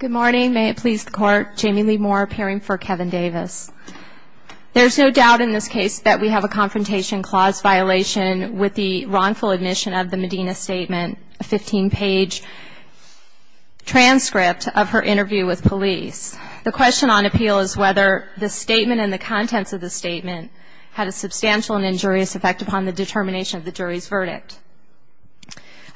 There is no doubt in this case that we have a Confrontation Clause violation with the wrongful admission of the Medina Statement, a 15-page transcript of her interview with police. The question on appeal is whether the statement and the contents of the statement had a substantial and injurious effect upon the determination of the jury's verdict.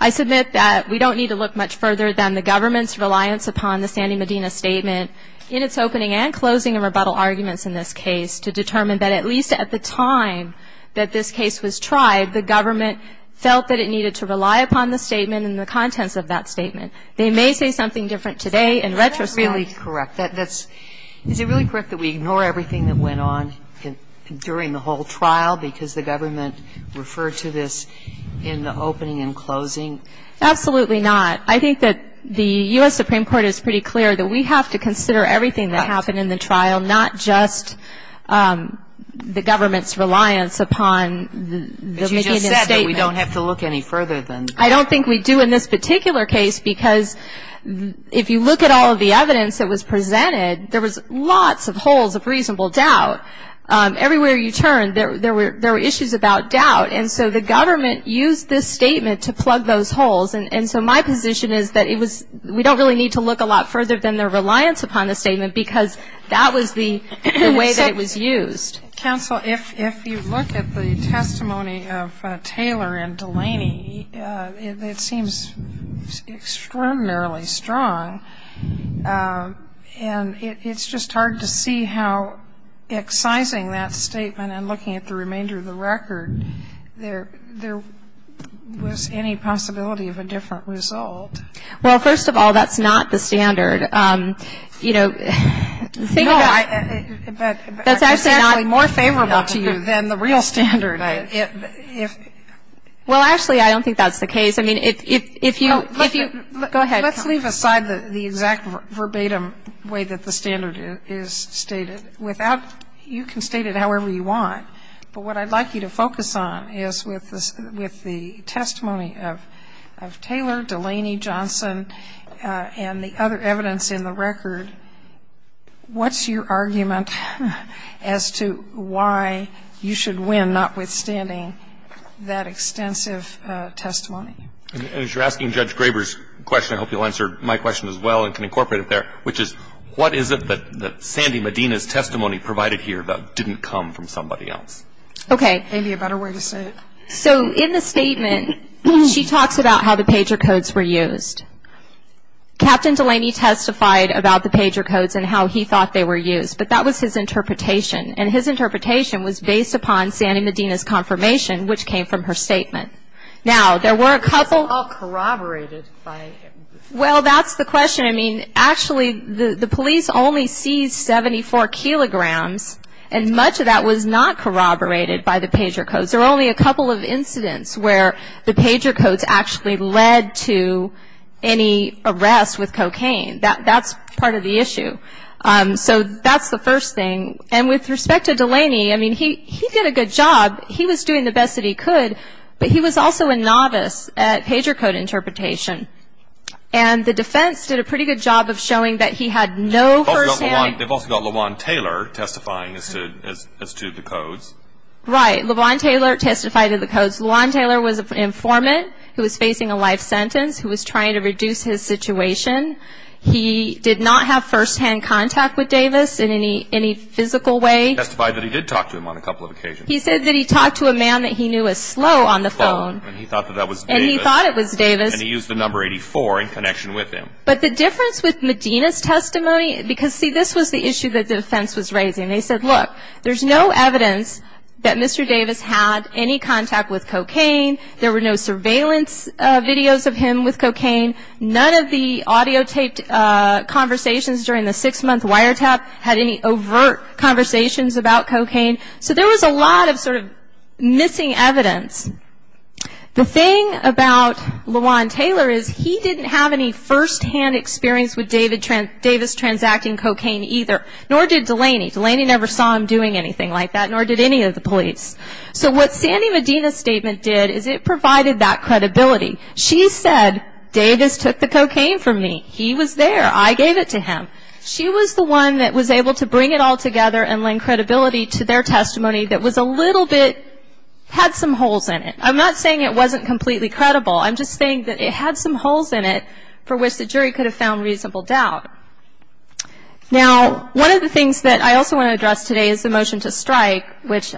I submit that we don't need to look much further than the government's reliance upon the Sandy Medina Statement in its opening and closing and rebuttal arguments in this case to determine that at least at the time that this case was tried, the government felt that it needed to rely upon the statement and the contents of that statement. They may say something different today in retrospect. Sotomayor Is that really correct? Is it really correct that we ignore everything that went on during the whole trial because the government referred to this in the opening and closing? Absolutely not. I think that the U.S. Supreme Court is pretty clear that we have to consider everything that happened in the trial, not just the government's reliance upon the Medina Statement. But you just said that we don't have to look any further than that. I don't think we do in this particular case because if you look at all of the evidence that was presented, there was lots of holes of reasonable doubt. Everywhere you turned, there were issues about doubt. And so the government used this statement to plug those holes. And so my position is that we don't really need to look a lot further than their reliance upon the statement because that was the way that it was used. Counsel, if you look at the testimony of Taylor and Delaney, it seems extraordinarily strong. And it's just hard to see how excising that statement and looking at the remainder of the record, there was any possibility of a different result. Well, first of all, that's not the standard. You know, think about it. No, but it's actually more favorable to you than the real standard. Well, actually, I don't think that's the case. I mean, if you go ahead. Let's leave aside the exact verbatim way that the standard is stated. Without you can state it however you want. But what I'd like you to focus on is with the testimony of Taylor, Delaney, Johnson, and the other evidence in the record, what's your argument as to why you should win notwithstanding that extensive testimony? And as you're asking Judge Graber's question, I hope you'll answer my question as well and can incorporate it there, which is what is it that Sandy Medina's testimony provided here that didn't come from somebody else? Okay. Maybe a better way to say it. So in the statement, she talks about how the pager codes were used. Captain Delaney testified about the pager codes and how he thought they were used. But that was his interpretation. And his interpretation was based upon Sandy Medina's confirmation, which came from her statement. Now, there were a couple of It's all corroborated by Well, that's the question. I mean, actually, the police only seized 74 kilograms, and much of that was not corroborated by the pager codes. There were only a couple of incidents where the pager codes actually led to any arrest with cocaine. That's part of the issue. So that's the first thing. And with respect to Delaney, I mean, he did a good job. He was doing the best that he could, but he was also a novice at pager code interpretation. And the defense did a pretty good job of showing that he had no firsthand They've also got LeVon Taylor testifying as to the codes. Right. LeVon Taylor testified to the codes. LeVon Taylor was an informant who was facing a life sentence who was trying to reduce his situation. He did not have firsthand contact with Davis in any physical way. He testified that he did talk to him on a couple of occasions. He said that he talked to a man that he knew was slow on the phone. And he thought that that was Davis. And he thought it was Davis. And he used the number 84 in connection with him. But the difference with Medina's testimony, because, see, this was the issue that the defense was raising. They said, look, there's no evidence that Mr. Davis had any contact with cocaine. There were no surveillance videos of him with cocaine. None of the audio taped conversations during the six-month wiretap had any overt conversations about cocaine. So there was a lot of sort of missing evidence. The thing about LeVon Taylor is he didn't have any firsthand experience with Davis transacting cocaine either. Nor did Delaney. Delaney never saw him doing anything like that. Nor did any of the police. So what Sandy Medina's statement did is it provided that credibility. She said, Davis took the cocaine from me. He was there. I gave it to him. She was the one that was able to bring it all together and lend credibility to their testimony that was a little bit had some holes in it. I'm not saying it wasn't completely credible. I'm just saying that it had some holes in it for which the jury could have found reasonable doubt. Now, one of the things that I also want to address today is the motion to strike, which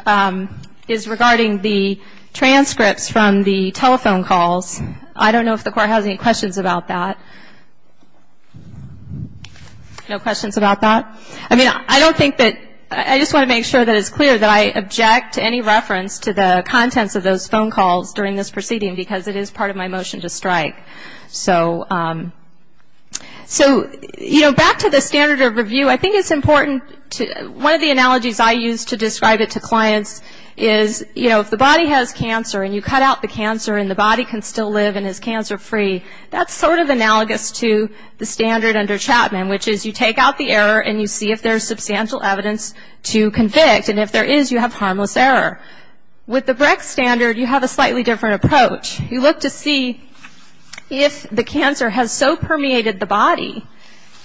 is regarding the transcripts from the telephone calls. I don't know if the court has any questions about that. No questions about that? I mean, I don't think that ‑‑ I just want to make sure that it's clear that I object to any reference to the contents of those phone calls during this proceeding because it is part of my motion to strike. So, you know, back to the standard of review, I think it's important to ‑‑ one of the analogies I use to describe it to clients is, you know, if the body has cancer and you cut out the cancer and the body can still live and is cancer free, that's sort of analogous to the standard under Chapman, which is you take out the error and you see if there's substantial evidence to convict. And if there is, you have harmless error. With the Breck standard, you have a slightly different approach. You look to see if the cancer has so permeated the body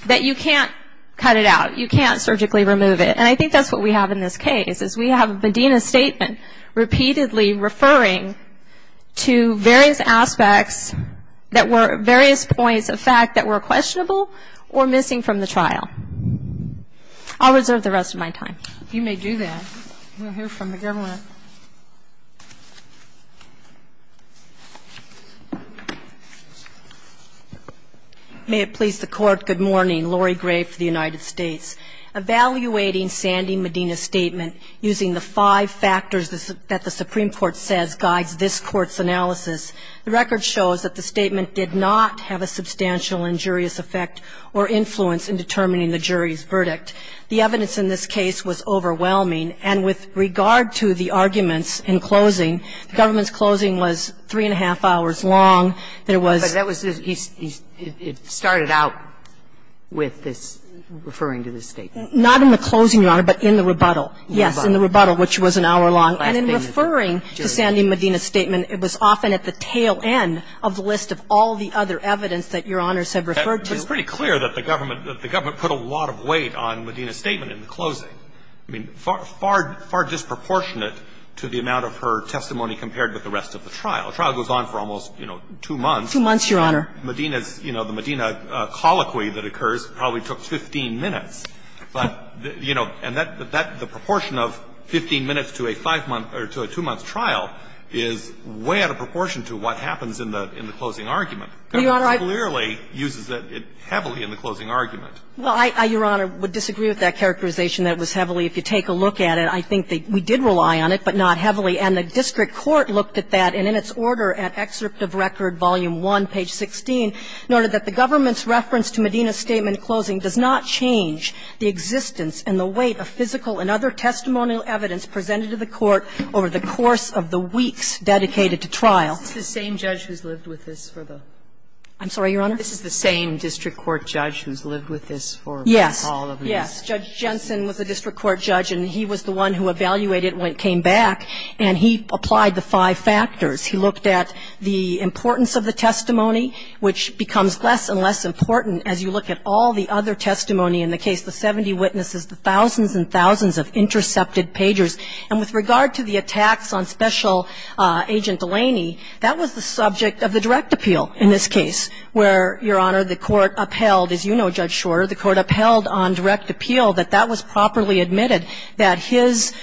that you can't cut it out. You can't surgically remove it. And I think that's what we have in this case, is we have Medina's statement repeatedly referring to various aspects that were various points of fact that were questionable or missing from the trial. I'll reserve the rest of my time. You may do that. We'll hear from the government. May it please the Court, good morning. I'm Laurie Gray for the United States. Evaluating Sandy Medina's statement using the five factors that the Supreme Court says guides this Court's analysis, the record shows that the statement did not have a substantial injurious effect or influence in determining the jury's verdict. The evidence in this case was overwhelming. And with regard to the arguments in closing, the government's closing was three and a half hours long. There was It started out with this, referring to this statement. Not in the closing, Your Honor, but in the rebuttal. Yes, in the rebuttal, which was an hour long. And in referring to Sandy Medina's statement, it was often at the tail end of the list of all the other evidence that Your Honors have referred to. It's pretty clear that the government put a lot of weight on Medina's statement in the closing. I mean, far disproportionate to the amount of her testimony compared with the rest of the trial. The trial goes on for almost, you know, two months. Two months, Your Honor. Medina's, you know, the Medina colloquy that occurs probably took 15 minutes. But, you know, and that the proportion of 15 minutes to a five-month or to a two-month trial is way out of proportion to what happens in the closing argument. The government clearly uses it heavily in the closing argument. Well, I, Your Honor, would disagree with that characterization that it was heavily. If you take a look at it, I think that we did rely on it, but not heavily. And the district court looked at that, and in its order at Excerpt of Record, Volume 1, page 16, noted that the government's reference to Medina's statement closing does not change the existence and the weight of physical and other testimonial evidence presented to the court over the course of the weeks dedicated to trial. It's the same judge who's lived with this for the ---- I'm sorry, Your Honor? This is the same district court judge who's lived with this for all of these. Yes. Yes. Judge Jensen was a district court judge, and he was the one who evaluated it when he came back, and he applied the five factors. He looked at the importance of the testimony, which becomes less and less important as you look at all the other testimony in the case, the 70 witnesses, the thousands and thousands of intercepted pagers. And with regard to the attacks on Special Agent Delaney, that was the subject of the direct appeal in this case, where, Your Honor, the court upheld, as you know, Judge Shorter, the court upheld on direct appeal that that was properly admitted, that his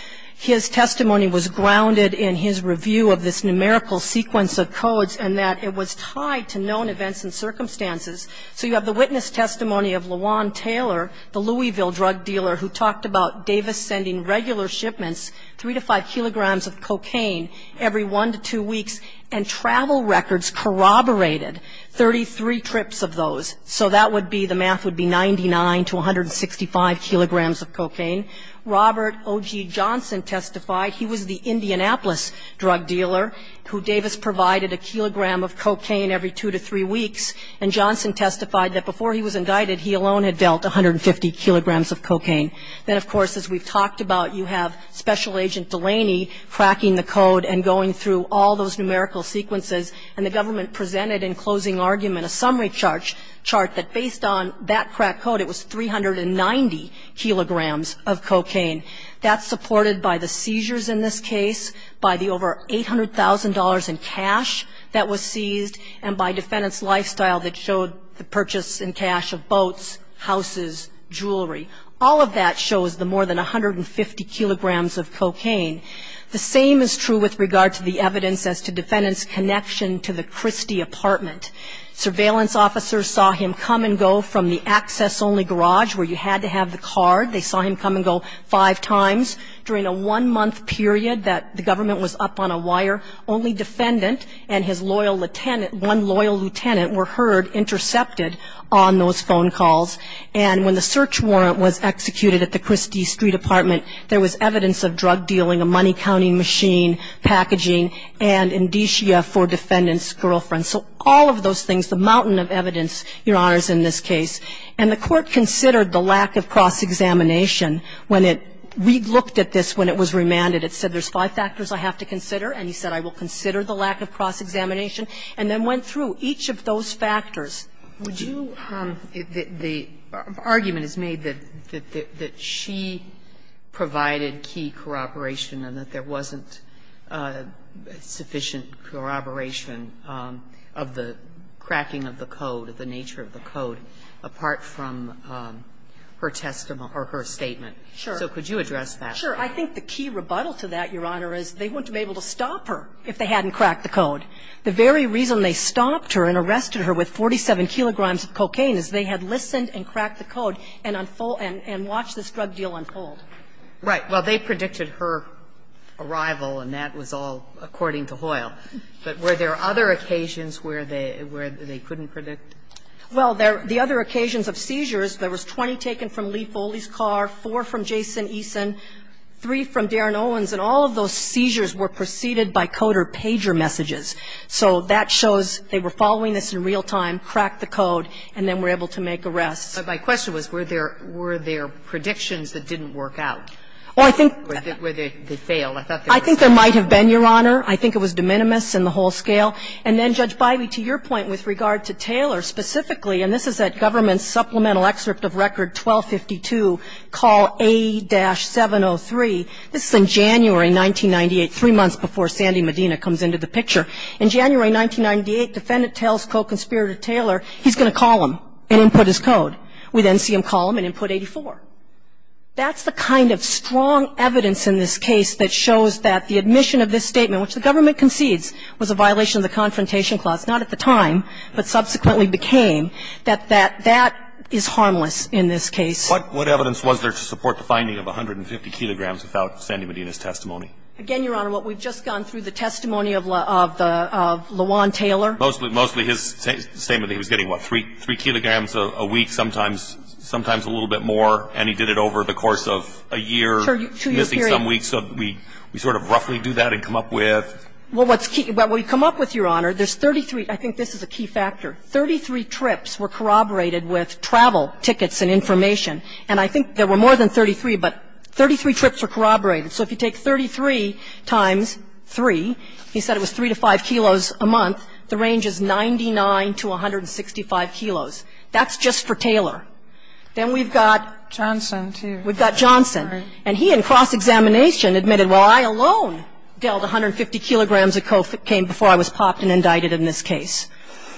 testimony was grounded in his review of this numerical sequence of codes and that it was tied to known events and circumstances. So you have the witness testimony of LaJuan Taylor, the Louisville drug dealer, who talked about Davis sending regular shipments, 3 to 5 kilograms of cocaine every one to two weeks, and travel records corroborated 33 trips of those. So that would be, the math would be 99 to 165 kilograms of cocaine. Robert O.G. Johnson testified. He was the Indianapolis drug dealer who Davis provided a kilogram of cocaine every two to three weeks. And Johnson testified that before he was indicted, he alone had dealt 150 kilograms of cocaine. Then, of course, as we've talked about, you have Special Agent Delaney cracking the code and going through all those numerical sequences. And the government presented in closing argument a summary chart that based on that crack code, it was 390 kilograms of cocaine. That's supported by the seizures in this case, by the over $800,000 in cash that was seized, and by defendant's lifestyle that showed the purchase and cash of boats, houses, jewelry. All of that shows the more than 150 kilograms of cocaine. The same is true with regard to the evidence as to defendant's connection to the Christie apartment. Surveillance officers saw him come and go from the access-only garage where you had to have the card. They saw him come and go five times during a one-month period that the government was up on a wire. Only defendant and his loyal lieutenant, one loyal lieutenant were heard intercepted on those phone calls. And when the search warrant was executed at the Christie Street apartment, there was evidence of drug dealing, a Money County machine, packaging, and indicia for defendant's girlfriend. So all of those things, the mountain of evidence, Your Honors, in this case. And the Court considered the lack of cross-examination when it re-looked at this when it was remanded. It said, there's five factors I have to consider, and he said, I will consider the lack of cross-examination, and then went through each of those factors. Would you – the argument is made that she provided key corroboration and that there was no evidence of the cracking of the code, the nature of the code, apart from her testimony or her statement. So could you address that? Sure. I think the key rebuttal to that, Your Honor, is they wouldn't have been able to stop her if they hadn't cracked the code. The very reason they stopped her and arrested her with 47 kilograms of cocaine is they had listened and cracked the code and watched this drug deal unfold. Right. Well, they predicted her arrival, and that was all according to Hoyle. But were there other occasions where they couldn't predict? Well, the other occasions of seizures, there was 20 taken from Lee Foley's car, four from Jason Eason, three from Darren Owens, and all of those seizures were preceded by coder pager messages. So that shows they were following this in real time, cracked the code, and then were able to make arrests. But my question was, were there predictions that didn't work out? Well, I think they failed. I thought they were successful. I think there might have been, Your Honor. I think it was de minimis in the whole scale. And then, Judge Bivey, to your point with regard to Taylor specifically, and this is at government supplemental excerpt of record 1252, call A-703. This is in January 1998, three months before Sandy Medina comes into the picture. In January 1998, defendant tells co-conspirator Taylor he's going to call him and input his code. We then see him call him and input 84. That's the kind of strong evidence in this case that shows that the admission of this charge, which the government concedes was a violation of the Confrontation Clause, not at the time, but subsequently became, that that is harmless in this case. What evidence was there to support the finding of 150 kilograms without Sandy Medina's testimony? Again, Your Honor, what we've just gone through, the testimony of LaJuan Taylor. Mostly his statement that he was getting, what, 3 kilograms a week, sometimes a little bit more. And he did it over the course of a year, missing some weeks. So we sort of roughly do that and come up with? Well, what's key, what we've come up with, Your Honor, there's 33. I think this is a key factor. Thirty-three trips were corroborated with travel tickets and information. And I think there were more than 33, but 33 trips were corroborated. So if you take 33 times 3, he said it was 3 to 5 kilos a month. The range is 99 to 165 kilos. That's just for Taylor. Then we've got? Johnson, too. We've got Johnson. And he, in cross-examination, admitted, well, I alone dealt 150 kilograms of cocaine before I was popped and indicted in this case.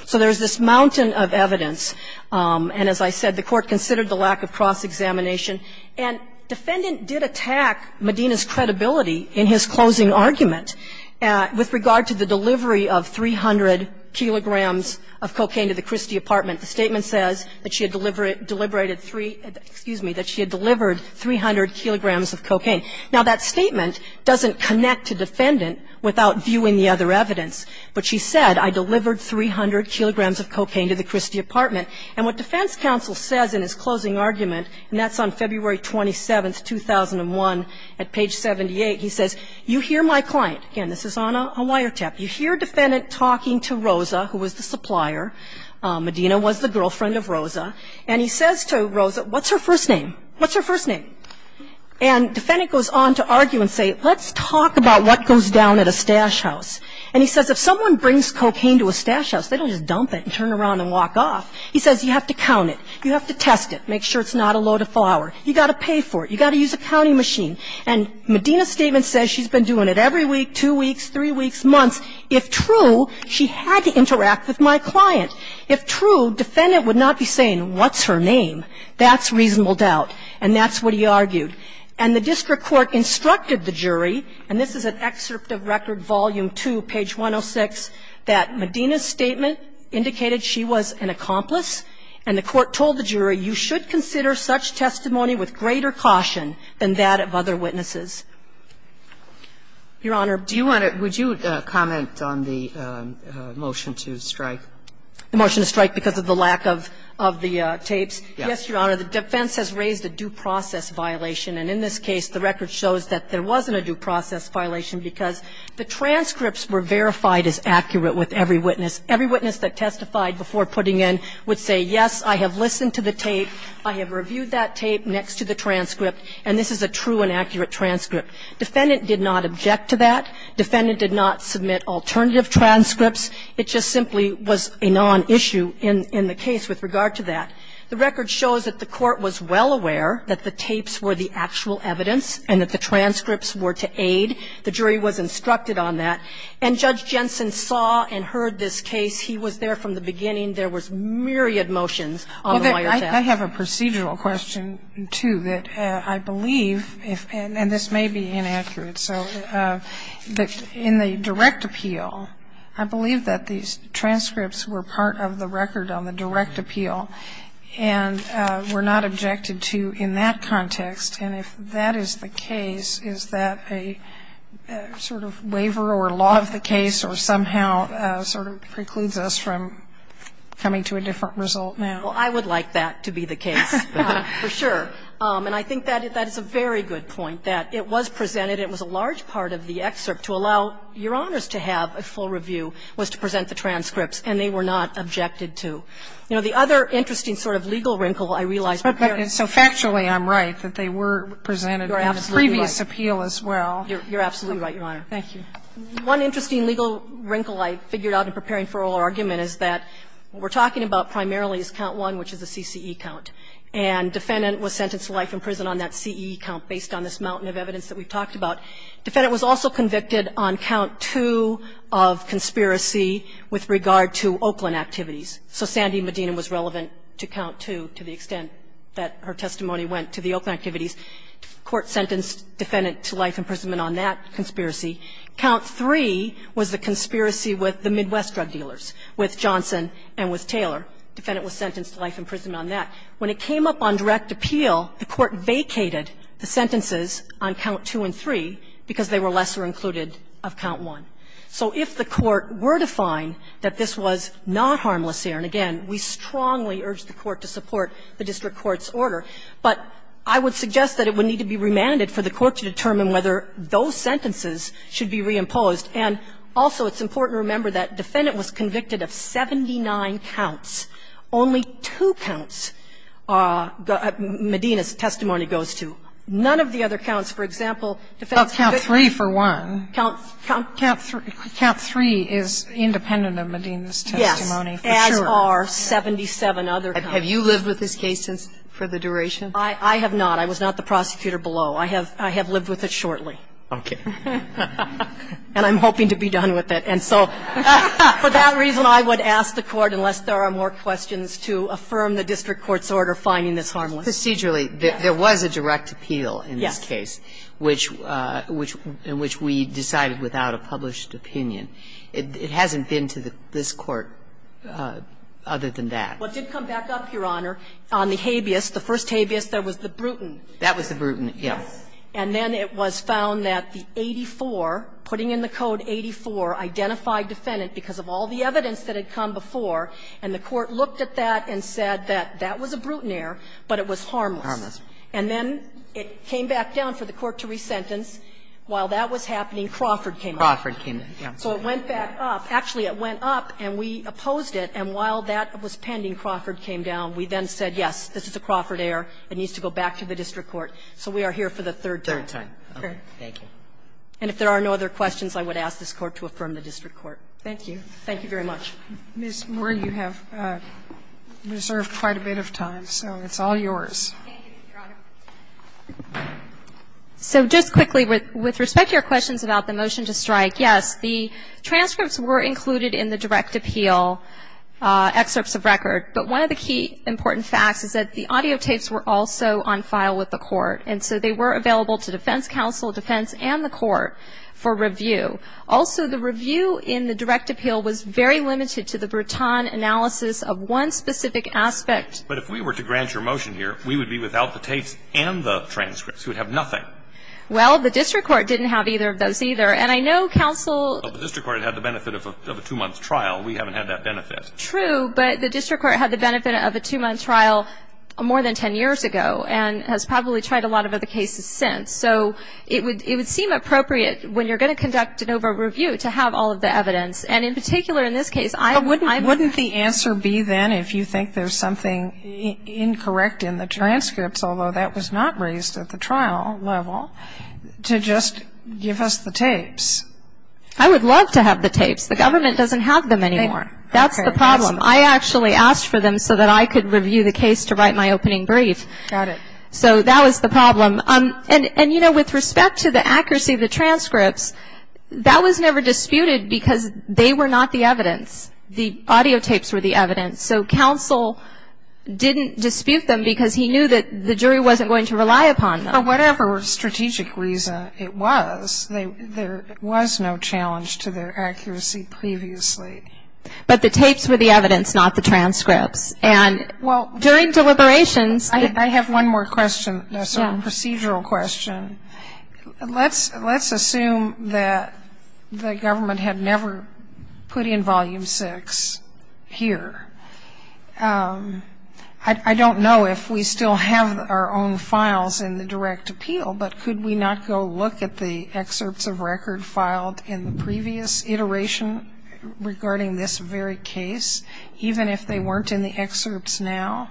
So there's this mountain of evidence. And as I said, the Court considered the lack of cross-examination. And defendant did attack Medina's credibility in his closing argument with regard to the delivery of 300 kilograms of cocaine to the Christie apartment. The statement says that she had deliberated three, excuse me, that she had delivered 300 kilograms of cocaine. Now, that statement doesn't connect to defendant without viewing the other evidence. But she said, I delivered 300 kilograms of cocaine to the Christie apartment. And what defense counsel says in his closing argument, and that's on February 27th, 2001, at page 78, he says, you hear my client, again, this is on a wiretap, you hear defendant talking to Rosa, who was the supplier. Medina was the girlfriend of Rosa. And he says to Rosa, what's her first name? What's her first name? And defendant goes on to argue and say, let's talk about what goes down at a stash house. And he says, if someone brings cocaine to a stash house, they don't just dump it and turn around and walk off. He says, you have to count it. You have to test it, make sure it's not a load of flour. You've got to pay for it. You've got to use a counting machine. And Medina's statement says she's been doing it every week, two weeks, three weeks, months. If true, she had to interact with my client. If true, defendant would not be saying, what's her name? That's reasonable doubt. And that's what he argued. And the district court instructed the jury, and this is an excerpt of Record Volume 2, page 106, that Medina's statement indicated she was an accomplice, and the court told the jury, you should consider such testimony with greater caution than that of other witnesses. Your Honor, do you want to – would you comment on the motion to strike? The motion to strike because of the lack of the tapes? Yes. Yes, Your Honor. The defense has raised a due process violation, and in this case, the record shows that there wasn't a due process violation because the transcripts were verified as accurate with every witness. Every witness that testified before putting in would say, yes, I have listened to the tape, I have reviewed that tape next to the transcript, and this is a true and accurate transcript. Defendant did not object to that. Defendant did not submit alternative transcripts. It just simply was a nonissue in the case with regard to that. The record shows that the court was well aware that the tapes were the actual evidence and that the transcripts were to aid. The jury was instructed on that. And Judge Jensen saw and heard this case. He was there from the beginning. There was myriad motions on the wiretap. I have a procedural question, too, that I believe, and this may be inaccurate, so that in the direct appeal, I believe that these transcripts were part of the record on the direct appeal and were not objected to in that context. And if that is the case, is that a sort of waiver or law of the case or somehow sort of precludes us from coming to a different result now? Well, I would like that to be the case, for sure. And I think that is a very good point, that it was presented. It was a large part of the excerpt to allow Your Honors to have a full review was to present the transcripts, and they were not objected to. You know, the other interesting sort of legal wrinkle I realize we're preparing for. Sotomayor So factually, I'm right that they were presented in the previous appeal as well. You're absolutely right, Your Honor. Thank you. One interesting legal wrinkle I figured out in preparing for oral argument is that what we're talking about primarily is count one, which is a CCE count. And defendant was sentenced to life in prison on that CCE count based on this mountain of evidence that we've talked about. Defendant was also convicted on count two of conspiracy with regard to Oakland activities. So Sandy Medina was relevant to count two to the extent that her testimony went to the Oakland activities. Court sentenced defendant to life imprisonment on that conspiracy. Count three was the conspiracy with the Midwest drug dealers, with Johnson and with Taylor. Defendant was sentenced to life imprisonment on that. When it came up on direct appeal, the Court vacated the sentences on count two and three because they were lesser included of count one. So if the Court were to find that this was not harmless here, and again, we strongly urge the Court to support the district court's order, but I would suggest that it would be remanded for the Court to determine whether those sentences should be reimposed. And also, it's important to remember that defendant was convicted of 79 counts. Only two counts Medina's testimony goes to. None of the other counts, for example, defense convicts. Sotomayor, count three for one. Count three is independent of Medina's testimony for sure. Yes, as are 77 other counts. Have you lived with this case for the duration? I have not. I was not the prosecutor below. I have lived with it shortly. Okay. And I'm hoping to be done with it. And so for that reason, I would ask the Court, unless there are more questions, to affirm the district court's order finding this harmless. Procedurally, there was a direct appeal in this case. Yes. Which we decided without a published opinion. It hasn't been to this Court other than that. Well, it did come back up, Your Honor, on the habeas. The first habeas, there was the Bruton. That was the Bruton, yes. And then it was found that the 84, putting in the code 84, identified defendant because of all the evidence that had come before, and the Court looked at that and said that that was a Bruton error, but it was harmless. Harmless. And then it came back down for the Court to resentence. While that was happening, Crawford came up. Crawford came up, yes. So it went back up. Actually, it went up and we opposed it. And while that was pending, Crawford came down. We then said, yes, this is a Crawford error. It needs to go back to the district court. So we are here for the third time. Third time. Okay. Thank you. And if there are no other questions, I would ask this Court to affirm the district court. Thank you. Thank you very much. Ms. Moore, you have reserved quite a bit of time, so it's all yours. Thank you, Your Honor. So just quickly, with respect to your questions about the motion to strike, yes, the transcripts were included in the direct appeal excerpts of record. But one of the key important facts is that the audio tapes were also on file with the Court. And so they were available to defense counsel, defense, and the Court for review. Also, the review in the direct appeal was very limited to the Bruton analysis of one specific aspect. But if we were to grant your motion here, we would be without the tapes and the transcripts. We would have nothing. Well, the district court didn't have either of those either. And I know counsel of the district court had the benefit of a two-month trial. We haven't had that benefit. True, but the district court had the benefit of a two-month trial more than ten years ago and has probably tried a lot of other cases since. So it would seem appropriate, when you're going to conduct an over-review, to have all of the evidence. And in particular, in this case, I wouldn't. Wouldn't the answer be then, if you think there's something incorrect in the transcripts, although that was not raised at the trial level, to just give us the tapes? I would love to have the tapes. The government doesn't have them anymore. That's the problem. I actually asked for them so that I could review the case to write my opening brief. Got it. So that was the problem. And, you know, with respect to the accuracy of the transcripts, that was never disputed because they were not the evidence. The audio tapes were the evidence. So counsel didn't dispute them because he knew that the jury wasn't going to rely upon them. For whatever strategic reason it was, there was no challenge to their accuracy previously. But the tapes were the evidence, not the transcripts. And during deliberations... I have one more question that's a procedural question. Let's assume that the government had never put in Volume 6 here. I don't know if we still have our own files in the direct appeal, but could we not go look at the excerpts of record filed in the previous iteration regarding this very case, even if they weren't in the excerpts now,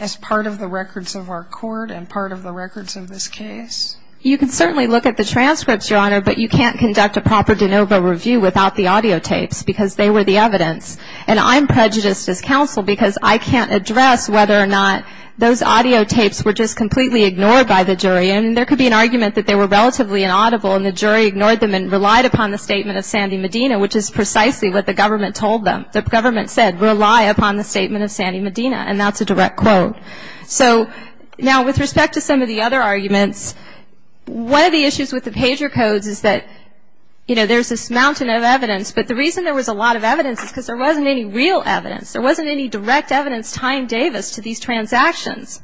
as part of the records of our court and part of the records of this case? You can certainly look at the transcripts, Your Honor, but you can't conduct a proper de novo review without the audio tapes because they were the evidence. And I'm prejudiced as counsel because I can't address whether or not those audio tapes were just completely ignored by the jury. I mean, there could be an argument that they were relatively inaudible and the jury ignored them and relied upon the statement of Sandy Medina, which is precisely what the government told them. The government said, rely upon the statement of Sandy Medina, and that's a direct quote. So now with respect to some of the other arguments, one of the issues with the pager codes is that, you know, there's this mountain of evidence. But the reason there was a lot of evidence is because there wasn't any real evidence. There wasn't any direct evidence tying Davis to these transactions.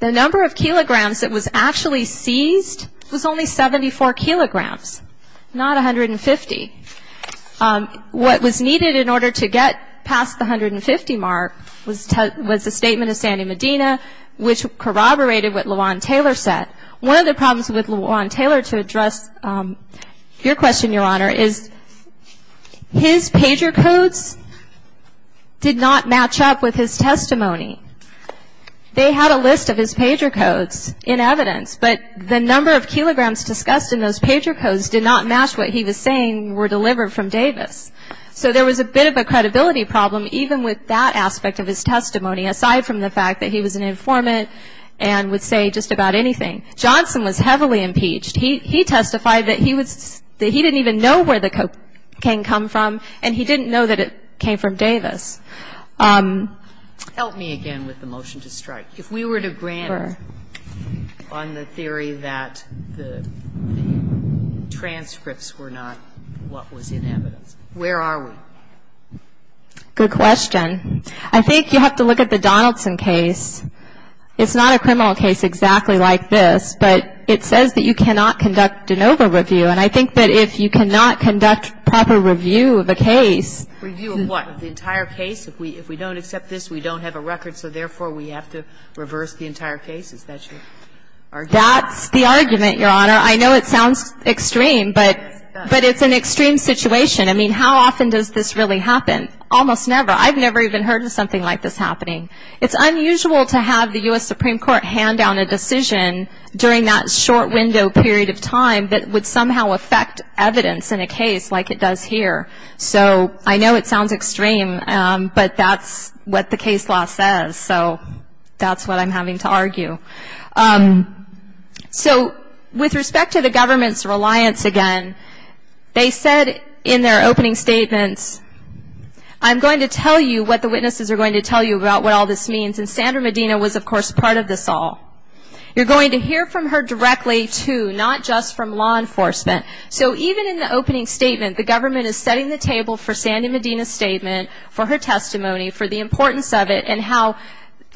The number of kilograms that was actually seized was only 74 kilograms, not 150. What was needed in order to get past the 150 mark was the statement of Sandy Medina, which corroborated what LaJuan Taylor said. One of the problems with LaJuan Taylor to address your question, Your Honor, is his pager codes did not match up with his testimony. They had a list of his pager codes in evidence, but the number of kilograms discussed in those pager codes did not match what he was saying were delivered from Davis. So there was a bit of a credibility problem, even with that aspect of his testimony, aside from the fact that he was an informant and would say just about anything. Johnson was heavily impeached. He testified that he didn't even know where the cocaine came from, and he didn't know that it came from Davis. Help me again with the motion to strike. If we were to grant on the theory that the transcripts were not what was in evidence, where are we? Good question. I think you have to look at the Donaldson case. It's not a criminal case exactly like this, but it says that you cannot conduct de novo review, and I think that if you cannot conduct proper review of a case Review of what? The entire case. If we don't accept this, we don't have a record, so therefore we have to reverse the entire case. Is that your argument? That's the argument, Your Honor. I know it sounds extreme, but it's an extreme situation. I mean, how often does this really happen? Almost never. I've never even heard of something like this happening. It's unusual to have the U.S. Supreme Court hand down a decision during that short window period of time that would somehow affect evidence in a case like it does here. So I know it sounds extreme, but that's what the case law says, so that's what I'm having to argue. So with respect to the government's reliance, again, they said in their opening statements, I'm going to tell you what the witnesses are going to tell you about what all this means, and Sandra Medina was, of course, part of this all. You're going to hear from her directly, too, not just from law enforcement. So even in the opening statement, the government is setting the table for Sandra Medina's statement, for her testimony, for the importance of it, and how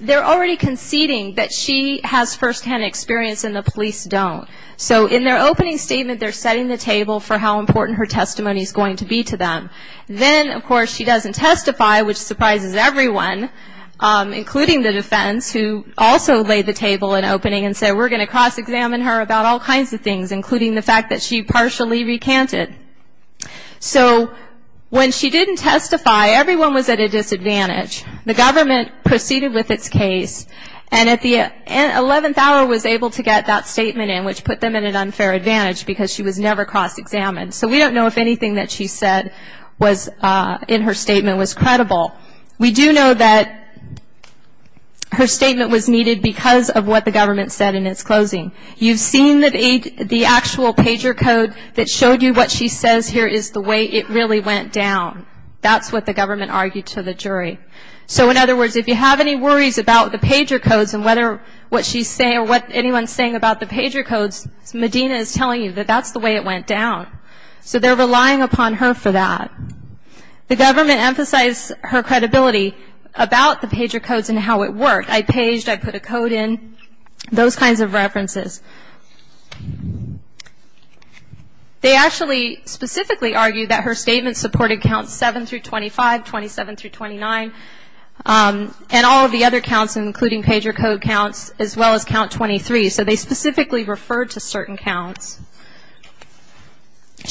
they're already conceding that she has firsthand experience and the police don't. So in their opening statement, they're setting the table for how important her testimony is going to be to them. Then, of course, she doesn't testify, which surprises everyone, including the defense, who also laid the table in opening and said, we're going to partially recant it. So when she didn't testify, everyone was at a disadvantage. The government proceeded with its case, and at the 11th hour was able to get that statement in, which put them at an unfair advantage because she was never cross-examined. So we don't know if anything that she said was in her statement was credible. We do know that her statement was needed because of what the government said in its closing. You've seen the actual pager code that showed you what she says here is the way it really went down. That's what the government argued to the jury. So, in other words, if you have any worries about the pager codes and what she's saying or what anyone's saying about the pager codes, Medina is telling you that that's the way it went down. So they're relying upon her for that. The government emphasized her credibility about the pager codes and how it worked. I paged. I put a code in. Those kinds of references. They actually specifically argued that her statement supported counts 7-25, 27-29, and all of the other counts, including pager code counts, as well as count 23. So they specifically referred to certain counts.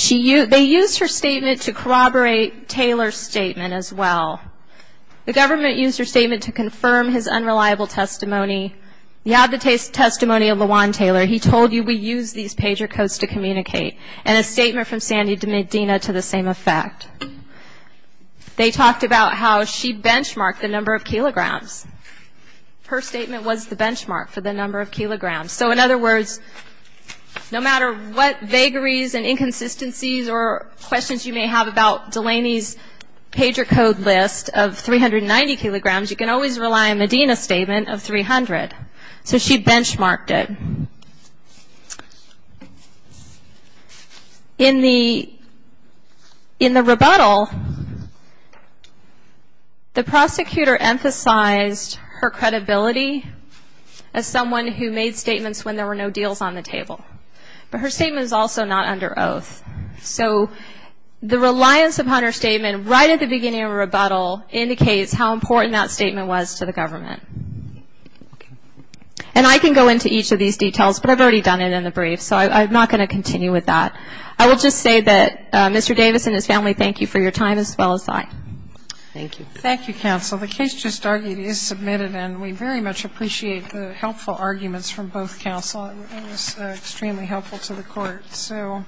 They used her statement to corroborate Taylor's statement as well. The government used her statement to confirm his unreliable testimony. You have the testimony of LeJuan Taylor. He told you we use these pager codes to communicate. And a statement from Sandy to Medina to the same effect. They talked about how she benchmarked the number of kilograms. Her statement was the benchmark for the number of kilograms. So, in other words, no matter what vagaries and inconsistencies or questions you may have about Delaney's pager code list of 390 kilograms, you can always rely on Medina's statement of 300. So she benchmarked it. In the rebuttal, the prosecutor emphasized her credibility as someone who made statements when there were no deals on the table. But her statement is also not under oath. So the reliance upon her statement right at the beginning of a rebuttal indicates how important that statement was to the government. And I can go into each of these details, but I've already done it in the brief. So I'm not going to continue with that. I will just say that Mr. Davis and his family, thank you for your time, as well as I. Thank you. Thank you, counsel. The case just argued is submitted, and we very much appreciate the helpful arguments from both counsel. It was extremely helpful to the court. So.